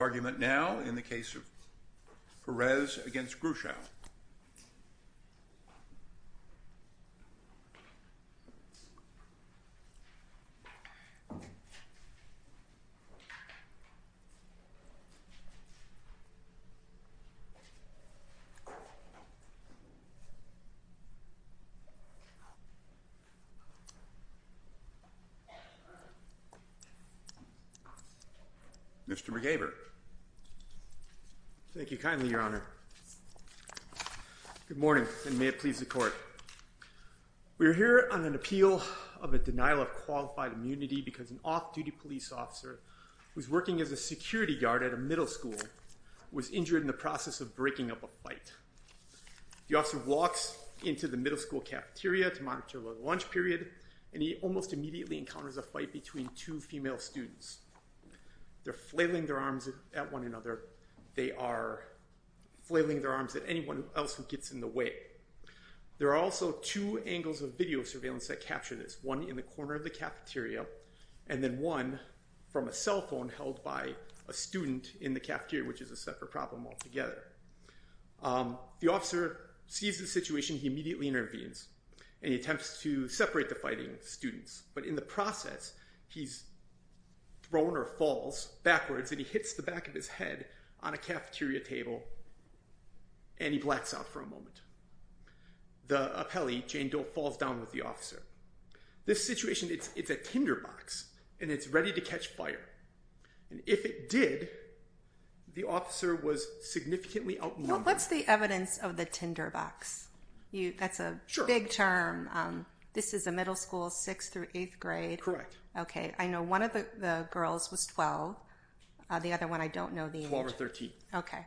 Argument now in the case of Perez v. Guetschow. Good morning and may it please the court. We're here on an appeal of a denial of qualified immunity because an off-duty police officer who's working as a security guard at a middle school was injured in the process of breaking up a fight. The officer walks into the middle school cafeteria to monitor the lunch period and he almost immediately encounters a fight between two female students. They're flailing their arms at one another. They are flailing their arms at anyone else who gets in the way. There are also two angles of video surveillance that capture this. One in the corner of the cafeteria and then one from a cell phone held by a student in the cafeteria which is a separate problem altogether. The officer sees the situation. He immediately intervenes and he attempts to separate the fighting students but in the process he's thrown or falls backwards and he hits the back of his head on a cafeteria table and he blacks out for a moment. The appellee, Jane Doe, falls down with the officer. This situation it's a tinderbox and it's ready to catch fire and if it did the officer was significantly outnumbered. What's the evidence of the tinderbox? That's a big term. This is a middle school sixth through eighth grade. Correct. Okay I know one of the girls was 12 the other one I don't know the age. 12 or 13. Okay.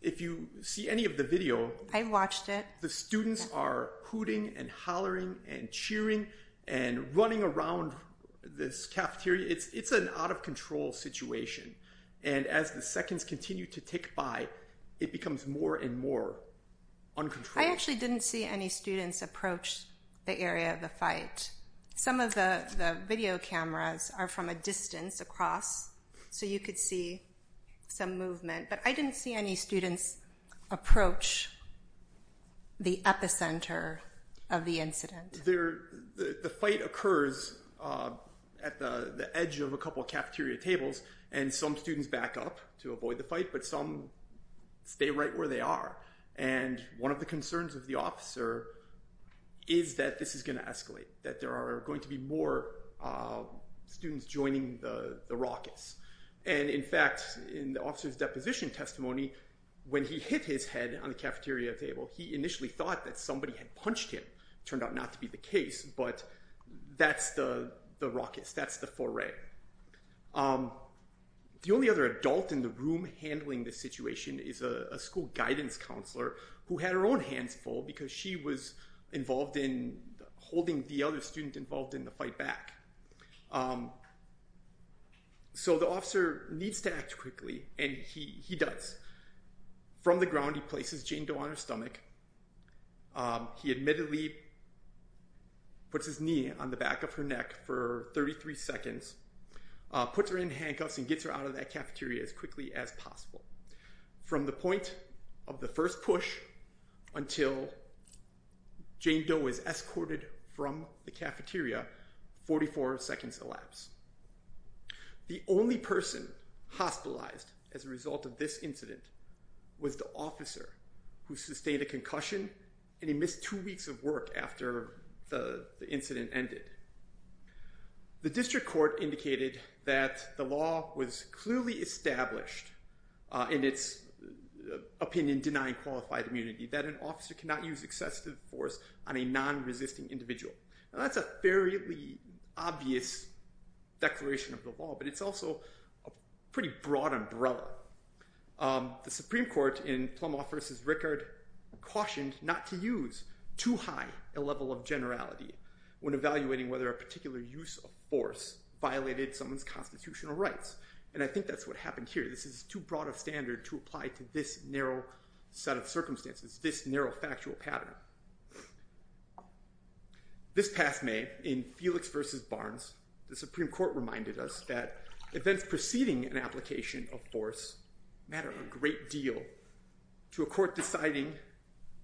If you see any of the video. I've watched it. The students are hooting and hollering and cheering and running around this cafeteria. It's an out-of- control situation and as the seconds continue to tick by it becomes more and more uncontrolled. I actually didn't see any students approach the area of the video cameras are from a distance across so you could see some movement but I didn't see any students approach the epicenter of the incident. The fight occurs at the edge of a couple cafeteria tables and some students back up to avoid the fight but some stay right where they are and one of the concerns of the officer is that this is going to escalate. That there are going to be more students joining the the rockets and in fact in the officer's deposition testimony when he hit his head on the cafeteria table he initially thought that somebody had punched him. Turned out not to be the case but that's the rockets that's the foray. The only other adult in the room handling this situation is a school guidance counselor who had her own hands full because she was involved in holding the other student involved in the fight back. So the officer needs to act quickly and he does. From the ground he places Jane Doe on her stomach. He admittedly puts his knee on the back of her neck for 33 seconds. Puts her in handcuffs and gets her out of that cafeteria as quickly as possible. From the point of the first push until Jane Doe is escorted from the cafeteria 44 seconds elapse. The only person hospitalized as a result of this incident was the officer who sustained a concussion and he missed two weeks of work after the incident ended. The district court indicated that the law was clearly established in its opinion denying qualified immunity that an officer cannot use excessive force on a non-resisting individual. That's a fairly obvious declaration of the law but it's also a pretty broad umbrella. The Supreme Court in Plumau versus Rickard cautioned not to use too high a level of generality when evaluating whether a particular use of force violated someone's constitutional rights and I think that's what happened here. This is too broad a standard to apply to this narrow set of circumstances, this narrow factual pattern. This past May in Felix versus Barnes the Supreme Court reminded us that events preceding an application of force matter a great deal to a court deciding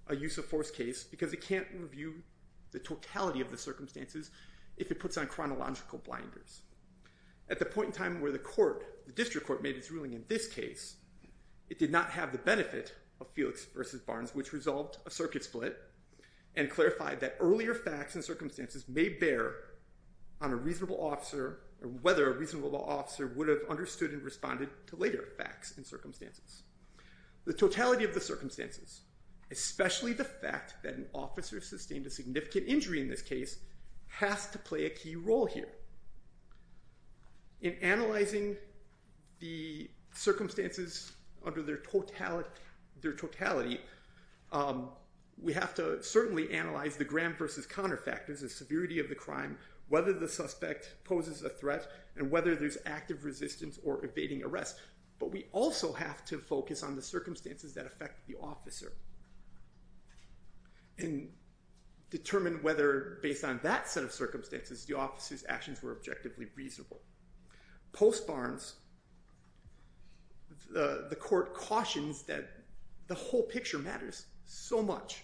a use of force case because it can't review the totality of the circumstances if it puts on chronological blinders. At the point in time where the court, the district court made its ruling in this case, it did not have the benefit of Felix versus Barnes which resolved a circuit split and clarified that earlier facts and circumstances may bear on a reasonable officer or whether a reasonable officer would have understood and responded to later facts and circumstances. The totality of the circumstances, especially the fact that an officer sustained a significant injury in this case, has to play a key role here. In analyzing the circumstances under their totality, we have to certainly analyze the Graham versus Connor factors, the severity of the crime, whether the suspect poses a threat, and whether there's active resistance or evading arrest, but we also have to focus on the circumstances that affect the officer and determine whether based on that set of circumstances the officer's actions were objectively reasonable. Post Barnes, the court cautions that the whole picture matters so much.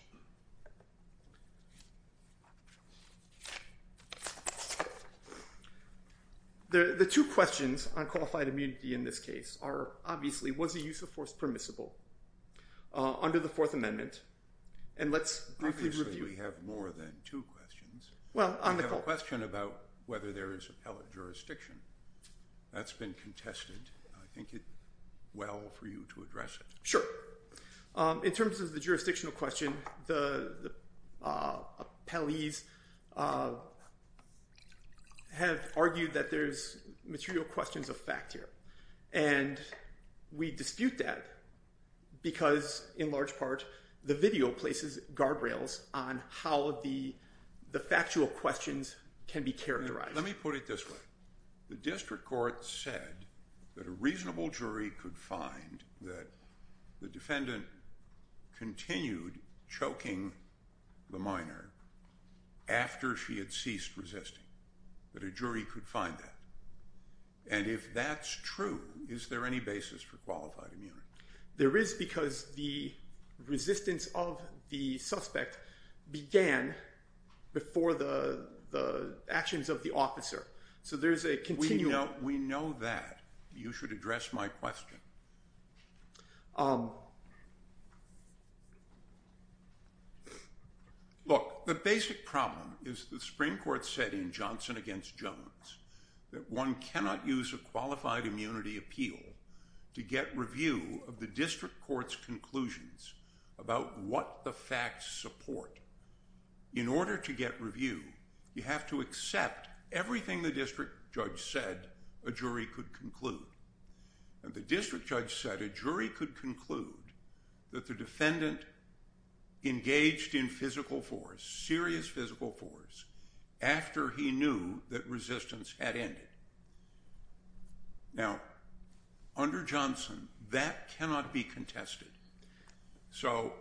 The two questions on qualified immunity in this case are obviously was the use of force permissible under the Fourth Amendment, and let's briefly review. We have more than two questions. We have a question about whether there is appellate jurisdiction. That's been contested. I think it's well for you to address it. Sure. In terms of the jurisdictional question, the appellees have argued that there's material questions of fact here, and we dispute that because in large part the video places guardrails on how the factual questions can be characterized. Let me put it this way. The district court said that a reasonable jury could find that the defendant continued choking the minor after she had ceased resisting. That a jury could find that. And if that's true, is there any basis for qualified immunity? There is because the resistance of the suspect began before the actions of the officer. So there's a continuum. We know that. You should address my question. Look, the basic problem is the Supreme Court said in Johnson against Jones that one cannot use a qualified immunity appeal to get review of the district court's conclusions about what the facts support. In order to get review, you have to accept everything the district judge said a jury could conclude. The district judge said a jury could conclude that the defendant engaged in physical force, serious physical force, after he knew that resistance had ended. Now, under Johnson, that cannot be contested. So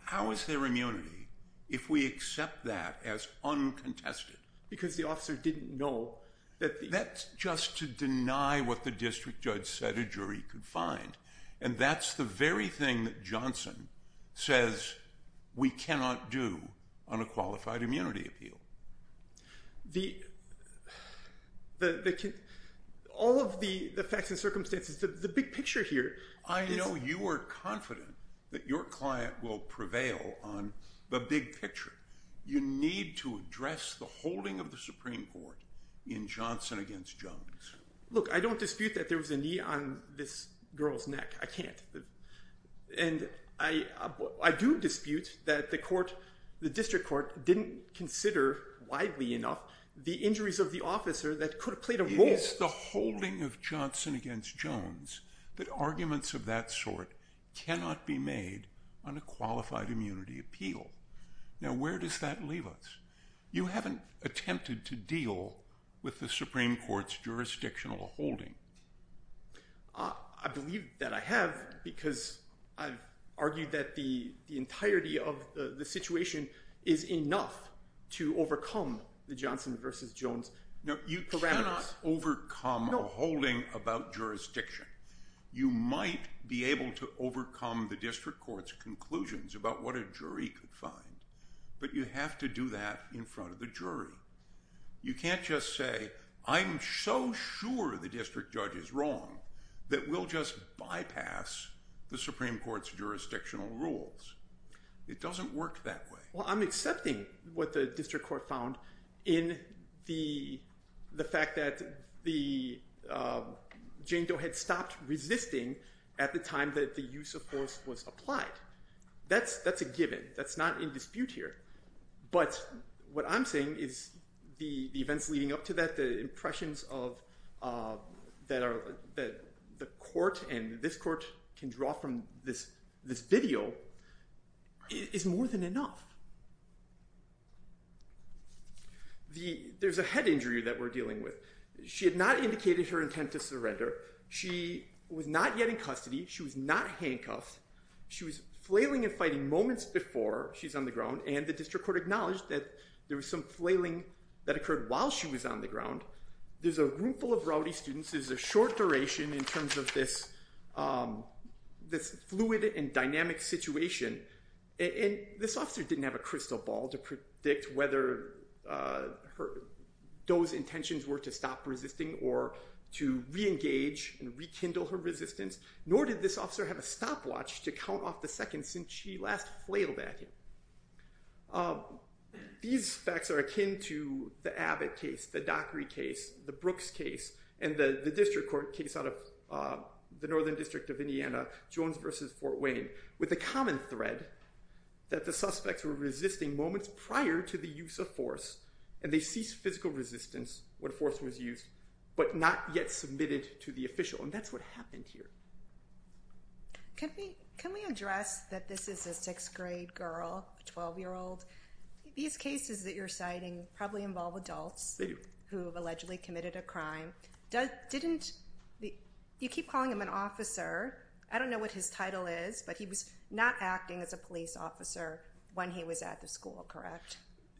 how is there immunity if we accept that as uncontested? Because the officer didn't know. That's just to deny what the district judge said a jury could find. And that's the very thing that Johnson says we cannot do on a qualified immunity appeal. All of the facts and circumstances, the big picture here... I know you are confident that your client will prevail on the big picture. You need to address the holding of the Supreme Court in Johnson against Jones. Look, I don't dispute that there was a knee on this girl's neck. I can't. And I do dispute that the court, the district court, didn't consider widely enough the injuries of the officer that could have played a role. It is the holding of Johnson against Jones that arguments of that sort cannot be made on a qualified immunity appeal. Now, where does that leave us? You haven't attempted to deal with the Supreme Court's jurisdictional holding. I believe that I have because I've argued that the entirety of the situation is enough to overcome the Johnson versus Jones. You cannot overcome a holding about jurisdiction. You might be able to overcome the district court's conclusions about what a jury could find. But you have to do that in front of the jury. You can't just say, I'm so sure the district judge is wrong that we'll just bypass the Supreme Court's jurisdictional rules. It doesn't work that way. Well, I'm accepting what the district court found in the fact that Jane Doe had stopped resisting at the time that the use of force was applied. That's a given. That's not in dispute here. But what I'm saying is the events leading up to that, the impressions that the court and this court can draw from this video is more than enough. There's a head injury that we're dealing with. She had not indicated her intent to surrender. She was not yet in custody. She was not handcuffed. She was flailing and fighting moments before she's on the ground. And the district court acknowledged that there was some flailing that occurred while she was on the ground. There's a room full of rowdy students. There's a short duration in terms of this fluid and dynamic situation. And this officer didn't have a crystal ball to predict whether Doe's intentions were to stop resisting or to reengage and rekindle her resistance. Nor did this officer have a stopwatch to count off the seconds since she last flailed at him. These facts are akin to the Abbott case, the Dockery case, the Brooks case, and the district court case out of the northern district of Indiana, Jones v. Fort Wayne, with the common thread that the suspects were resisting moments prior to the use of force, and they ceased physical resistance when force was used, but not yet submitted to the official. And that's what happened here. Can we address that this is a sixth-grade girl, a 12-year-old? These cases that you're citing probably involve adults who have allegedly committed a crime. You keep calling him an officer. I don't know what his title is, but he was not acting as a police officer when he was at the school, correct?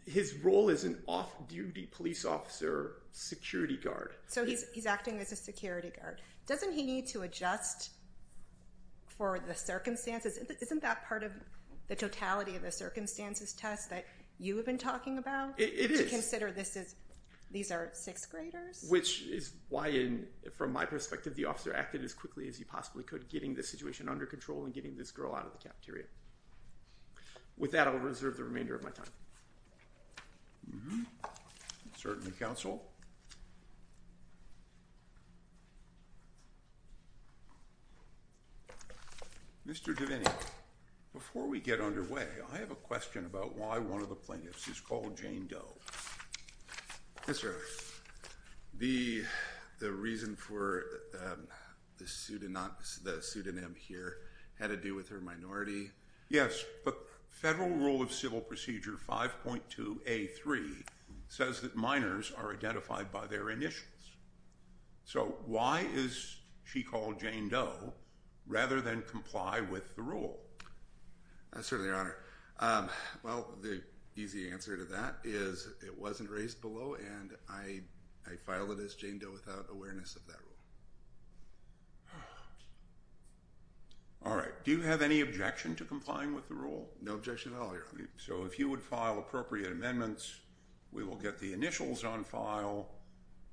His role is an off-duty police officer security guard. So he's acting as a security guard. Doesn't he need to adjust for the circumstances? Isn't that part of the totality of the circumstances test that you have been talking about? It is. To consider these are sixth-graders? Which is why, from my perspective, the officer acted as quickly as he possibly could, getting the situation under control and getting this girl out of the cafeteria. With that, I'll reserve the remainder of my time. Certainly, counsel. Mr. Devaney, before we get underway, I have a question about why one of the plaintiffs is called Jane Doe. Yes, sir. The reason for the pseudonym here had to do with her minority? Yes, but Federal Rule of Civil Procedure 5.2A.3 says that minors are identified by their initials. So why is she called Jane Doe rather than comply with the rule? Certainly, Your Honor. Well, the easy answer to that is it wasn't raised below, and I filed it as Jane Doe without awareness of that rule. All right. Do you have any objection to complying with the rule? No objection at all, Your Honor. So if you would file appropriate amendments, we will get the initials on file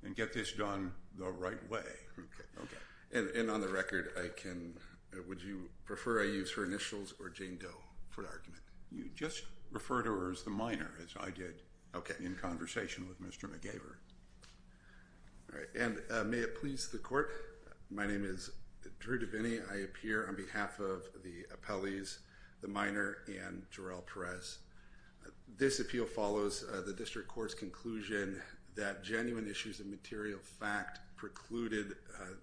and get this done the right way. And on the record, would you prefer I use her initials or Jane Doe for the argument? You just refer to her as the minor, as I did in conversation with Mr. McGaver. All right. And may it please the Court, my name is Drew DeVinney. I appear on behalf of the appellees, the minor, and Jerrell Perez. This appeal follows the district court's conclusion that genuine issues of material fact precluded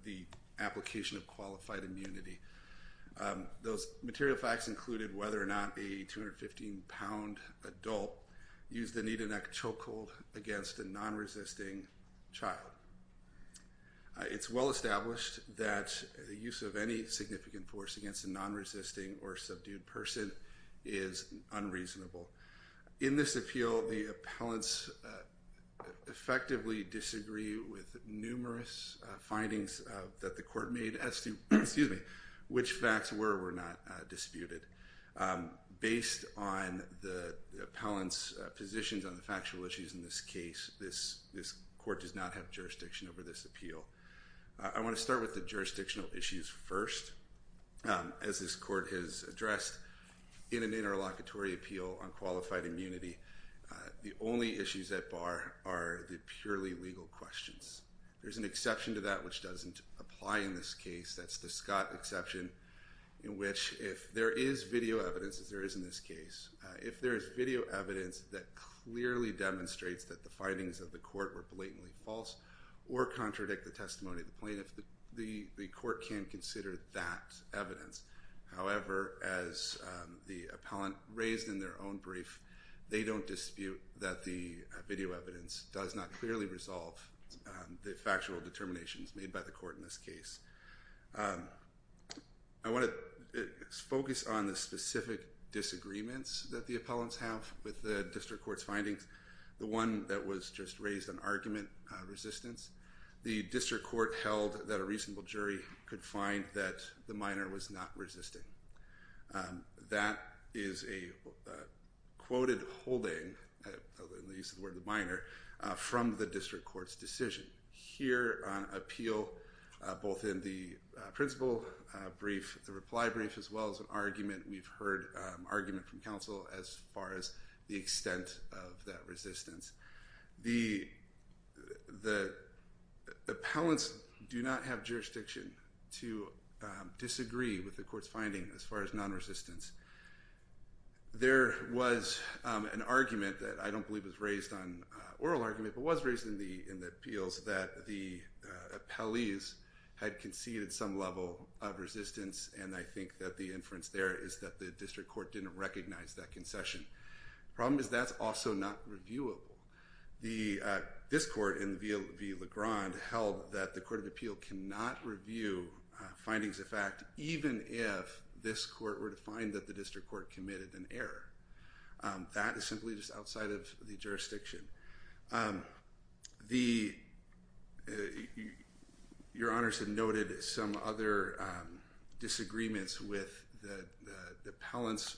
the application of qualified immunity. Those material facts included whether or not a 215-pound adult used the knee-to-neck chokehold against a non-resisting child. It's well established that the use of any significant force against a non-resisting or subdued person is unreasonable. In this appeal, the appellants effectively disagree with numerous findings that the court made as to which facts were or were not disputed. Based on the appellants' positions on the factual issues in this case, this court does not have jurisdiction over this appeal. I want to start with the jurisdictional issues first. As this court has addressed in an interlocutory appeal on qualified immunity, the only issues at bar are the purely legal questions. There's an exception to that which doesn't apply in this case. That's the Scott exception in which if there is video evidence, as there is in this case, if there is video evidence that clearly demonstrates that the findings of the court were blatantly false or contradict the testimony of the plaintiff, the court can consider that evidence. However, as the appellant raised in their own brief, they don't dispute that the video evidence does not clearly resolve the factual determinations made by the court in this case. I want to focus on the specific disagreements that the appellants have with the district court's findings, the one that was just raised on argument resistance. The district court held that a reasonable jury could find that the minor was not resisting. That is a quoted holding, at least the word minor, from the district court's decision. Here on appeal, both in the principle brief, the reply brief, as well as an argument, we've heard argument from counsel as far as the extent of that resistance. The appellants do not have jurisdiction to disagree with the court's finding as far as non-resistance. There was an argument that I don't believe was raised on oral argument, but was raised in the appeals that the appellees had conceded some level of resistance, and I think that the inference there is that the district court didn't recognize that concession. The problem is that's also not reviewable. This court in v. LeGrand held that the court of appeal cannot review findings of fact even if this court were to find that the district court committed an error. That is simply just outside of the jurisdiction. Your Honors had noted some other disagreements that the appellants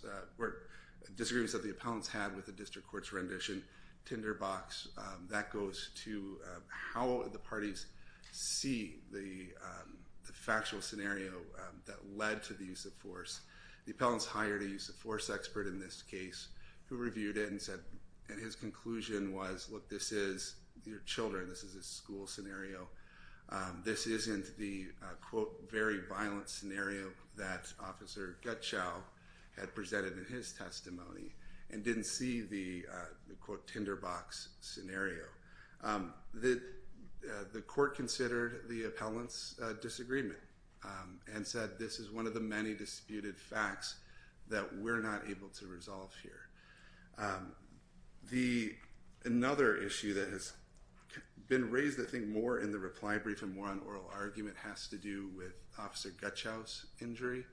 had with the district court's rendition, tinderbox. That goes to how the parties see the factual scenario that led to the use of force. The appellants hired a use of force expert in this case who reviewed it and said, and his conclusion was, look, this is your children. This is a school scenario. This isn't the, quote, very violent scenario that Officer Gutschow had presented in his testimony and didn't see the, quote, tinderbox scenario. The court considered the appellant's disagreement and said this is one of the many disputed facts that we're not able to resolve here. Another issue that has been raised, I think, more in the reply brief and more on oral argument has to do with Officer Gutschow's injury.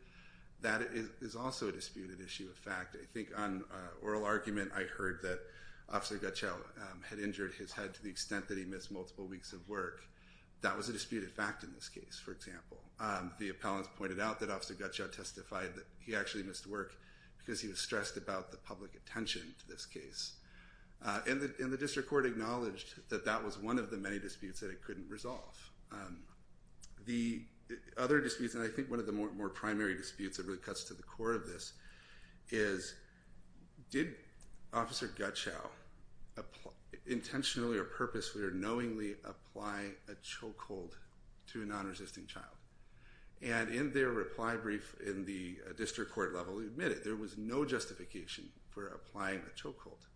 That is also a disputed issue of fact. I think on oral argument I heard that Officer Gutschow had injured his head to the extent that he missed multiple weeks of work. That was a disputed fact in this case, for example. The appellants pointed out that Officer Gutschow testified that he actually missed work because he was stressed about the public attention to this case. And the district court acknowledged that that was one of the many disputes that it couldn't resolve. The other disputes, and I think one of the more primary disputes that really cuts to the core of this, is did Officer Gutschow intentionally or purposefully or knowingly apply a chokehold to a non-resisting child? And in their reply brief in the district court level, he admitted there was no justification for applying a chokehold.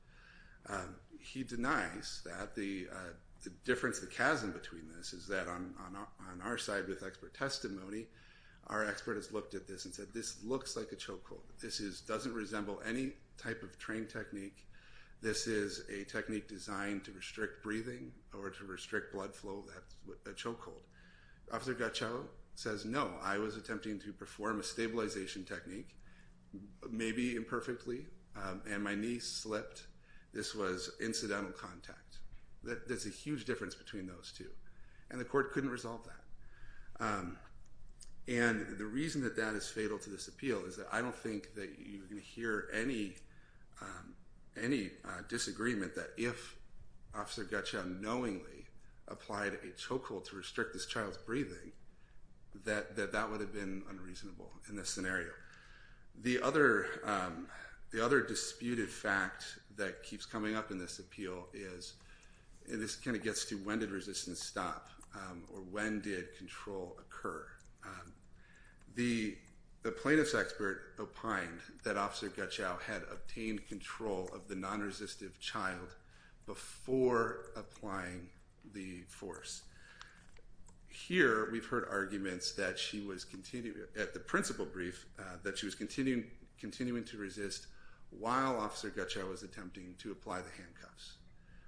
He denies that. The difference, the chasm between this is that on our side with expert testimony, our expert has looked at this and said this looks like a chokehold. This doesn't resemble any type of trained technique. This is a technique designed to restrict breathing or to restrict blood flow, a chokehold. Officer Gutschow says, no, I was attempting to perform a stabilization technique, maybe imperfectly. And my knee slipped. This was incidental contact. There's a huge difference between those two. And the court couldn't resolve that. And the reason that that is fatal to this appeal is that I don't think that you can hear any disagreement that if Officer Gutschow knowingly applied a chokehold to restrict this child's breathing, that that would have been unreasonable in this scenario. The other disputed fact that keeps coming up in this appeal is, and this kind of gets to when did resistance stop or when did control occur? The plaintiff's expert opined that Officer Gutschow had obtained control of the non-resistive child before applying the force. Here, we've heard arguments at the principal brief that she was continuing to resist while Officer Gutschow was attempting to apply the handcuffs.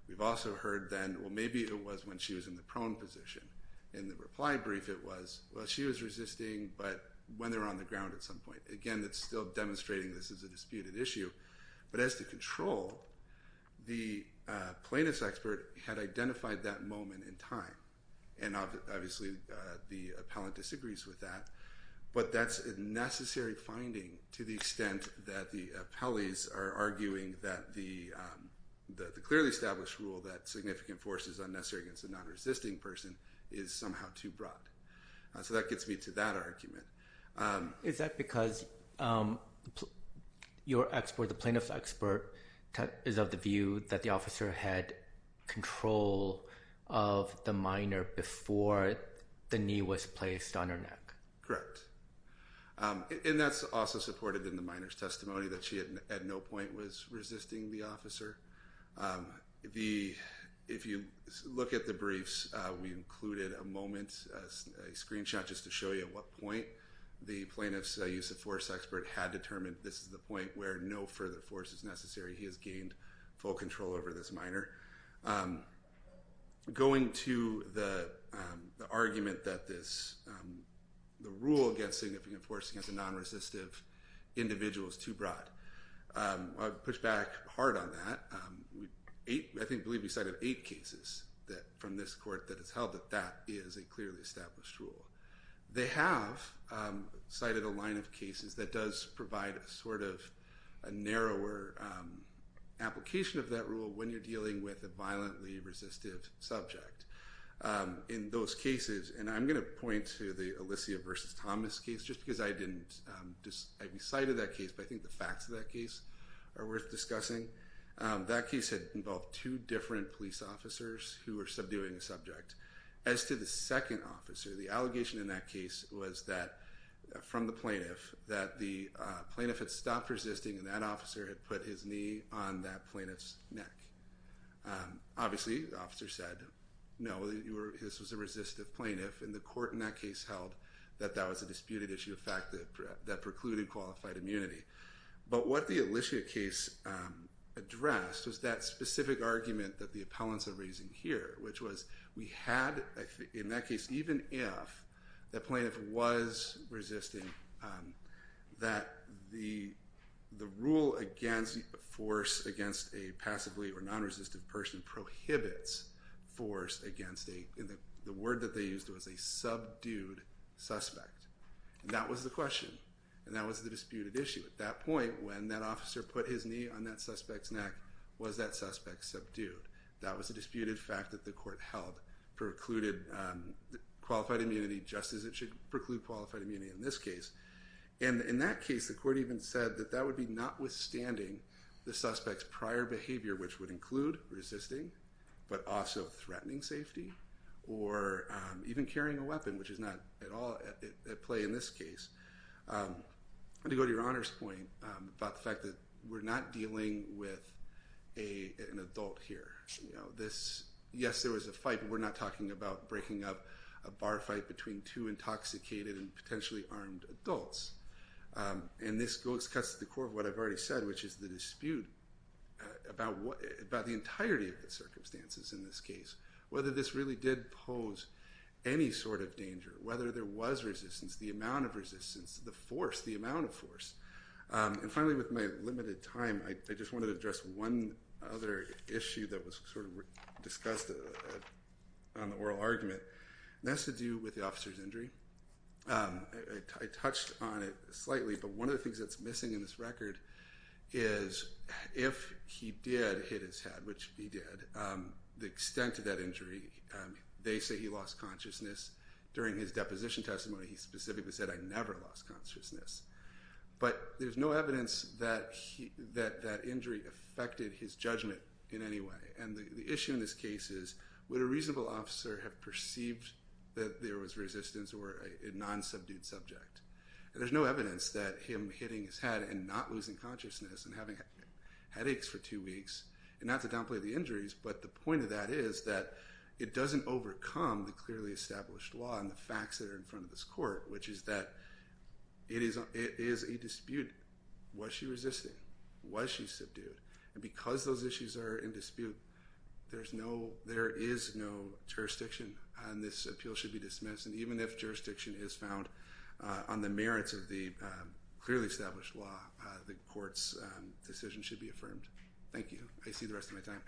We've also heard then, well, maybe it was when she was in the prone position. In the reply brief, it was, well, she was resisting, but when they were on the ground at some point. Again, that's still demonstrating this is a disputed issue. But as to control, the plaintiff's expert had identified that moment in time. And obviously, the appellant disagrees with that. But that's a necessary finding to the extent that the appellees are arguing that the clearly established rule that significant force is unnecessary against a non-resisting person is somehow too broad. So that gets me to that argument. Is that because your expert, the plaintiff's expert, is of the view that the officer had control of the minor before the knee was placed on her neck? Correct. And that's also supported in the minor's testimony that she at no point was resisting the officer. If you look at the briefs, we included a moment, a screenshot just to show you at what point the plaintiff's use of force expert had determined this is the point where no further force is necessary. He has gained full control over this minor. Going to the argument that the rule against significant force against a non-resistive individual is too broad, I would push back hard on that. I believe you cited eight cases from this court that has held that that is a clearly established rule. They have cited a line of cases that does provide a sort of a narrower application of that rule when you're dealing with a violently resistive subject. In those cases, and I'm going to point to the Alicia versus Thomas case just because I didn't, I cited that case, but I think the facts of that case are worth discussing. That case had involved two different police officers who were subduing the subject. As to the second officer, the allegation in that case was that from the plaintiff that the plaintiff had stopped resisting and that officer had put his knee on that plaintiff's neck. Obviously, the officer said, no, this was a resistive plaintiff, and the court in that case held that that was a disputed issue of fact that precluded qualified immunity. But what the Alicia case addressed was that specific argument that the appellants are raising here, which was we had, in that case, even if the plaintiff was resisting, that the rule against force against a passively or non-resistive person prohibits force against a, the word that they used was a subdued suspect. That was the question, and that was the disputed issue. At that point, when that officer put his knee on that suspect's neck, was that suspect subdued? That was a disputed fact that the court held precluded qualified immunity just as it should preclude qualified immunity in this case. And in that case, the court even said that that would be notwithstanding the suspect's prior behavior, which would include resisting, but also threatening safety or even carrying a weapon, which is not at all at play in this case. I'm going to go to your Honor's point about the fact that we're not dealing with an adult here. Yes, there was a fight, but we're not talking about breaking up a bar fight between two intoxicated and potentially armed adults. And this cuts to the core of what I've already said, which is the dispute about the entirety of the circumstances in this case. Whether this really did pose any sort of danger, whether there was resistance, the amount of resistance, the force, the amount of force. And finally, with my limited time, I just wanted to address one other issue that was sort of discussed on the oral argument, and that's to do with the officer's injury. I touched on it slightly, but one of the things that's missing in this record is if he did hit his head, which he did, the extent of that injury, they say he lost consciousness. During his deposition testimony, he specifically said, I never lost consciousness. But there's no evidence that that injury affected his judgment in any way. And the issue in this case is, would a reasonable officer have perceived that there was resistance or a non-subdued subject? And there's no evidence that him hitting his head and not losing consciousness and having headaches for two weeks, not to downplay the injuries, but the point of that is that it doesn't overcome the clearly established law and the facts that are in front of this court, which is that it is a dispute. Was she resisting? Was she subdued? And because those issues are in dispute, there is no jurisdiction, and this appeal should be dismissed. And even if jurisdiction is found on the merits of the clearly established law, the court's decision should be affirmed. Thank you. I see the rest of my time.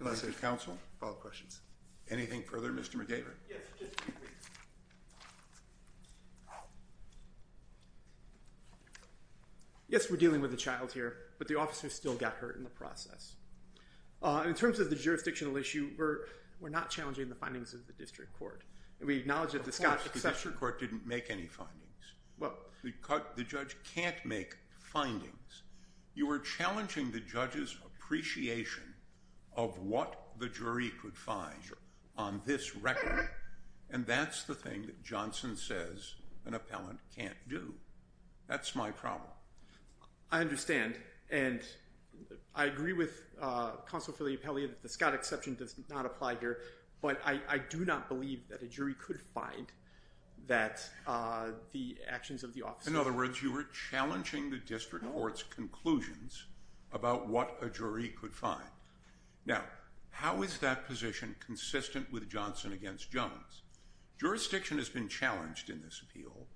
Unless there's counsel, follow-up questions. Anything further? Mr. McDavid. Yes, we're dealing with a child here, but the officer still got hurt in the process. In terms of the jurisdictional issue, we're not challenging the findings of the district court. Of course, the district court didn't make any findings. The judge can't make findings. You are challenging the judge's appreciation of what the jury could find on this record, and that's the thing that Johnson says an appellant can't do. That's my problem. I understand, and I agree with counsel Filipelli that the Scott exception does not apply here, but I do not believe that a jury could find that the actions of the officer— In other words, you were challenging the district court's conclusions about what a jury could find. Now, how is that position consistent with Johnson against Jones? Jurisdiction has been challenged in this appeal.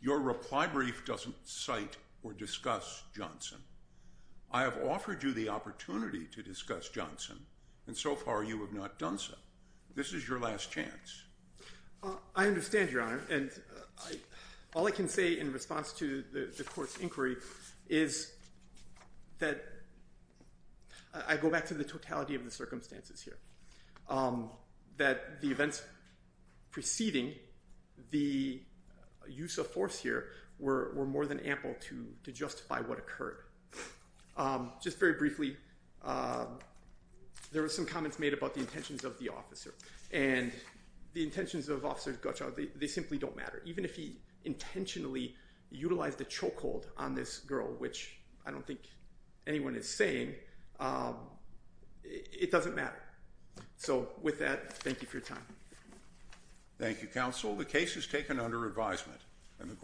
Your reply brief doesn't cite or discuss Johnson. I have offered you the opportunity to discuss Johnson, and so far you have not done so. This is your last chance. I understand, Your Honor, and all I can say in response to the court's inquiry is that I go back to the totality of the circumstances here, that the events preceding the use of force here were more than ample to justify what occurred. Just very briefly, there were some comments made about the intentions of the officer, and the intentions of Officer Gottschalk, they simply don't matter. Even if he intentionally utilized a chokehold on this girl, which I don't think anyone is saying, it doesn't matter. So, with that, thank you for your time. Thank you, counsel. The case is taken under advisement.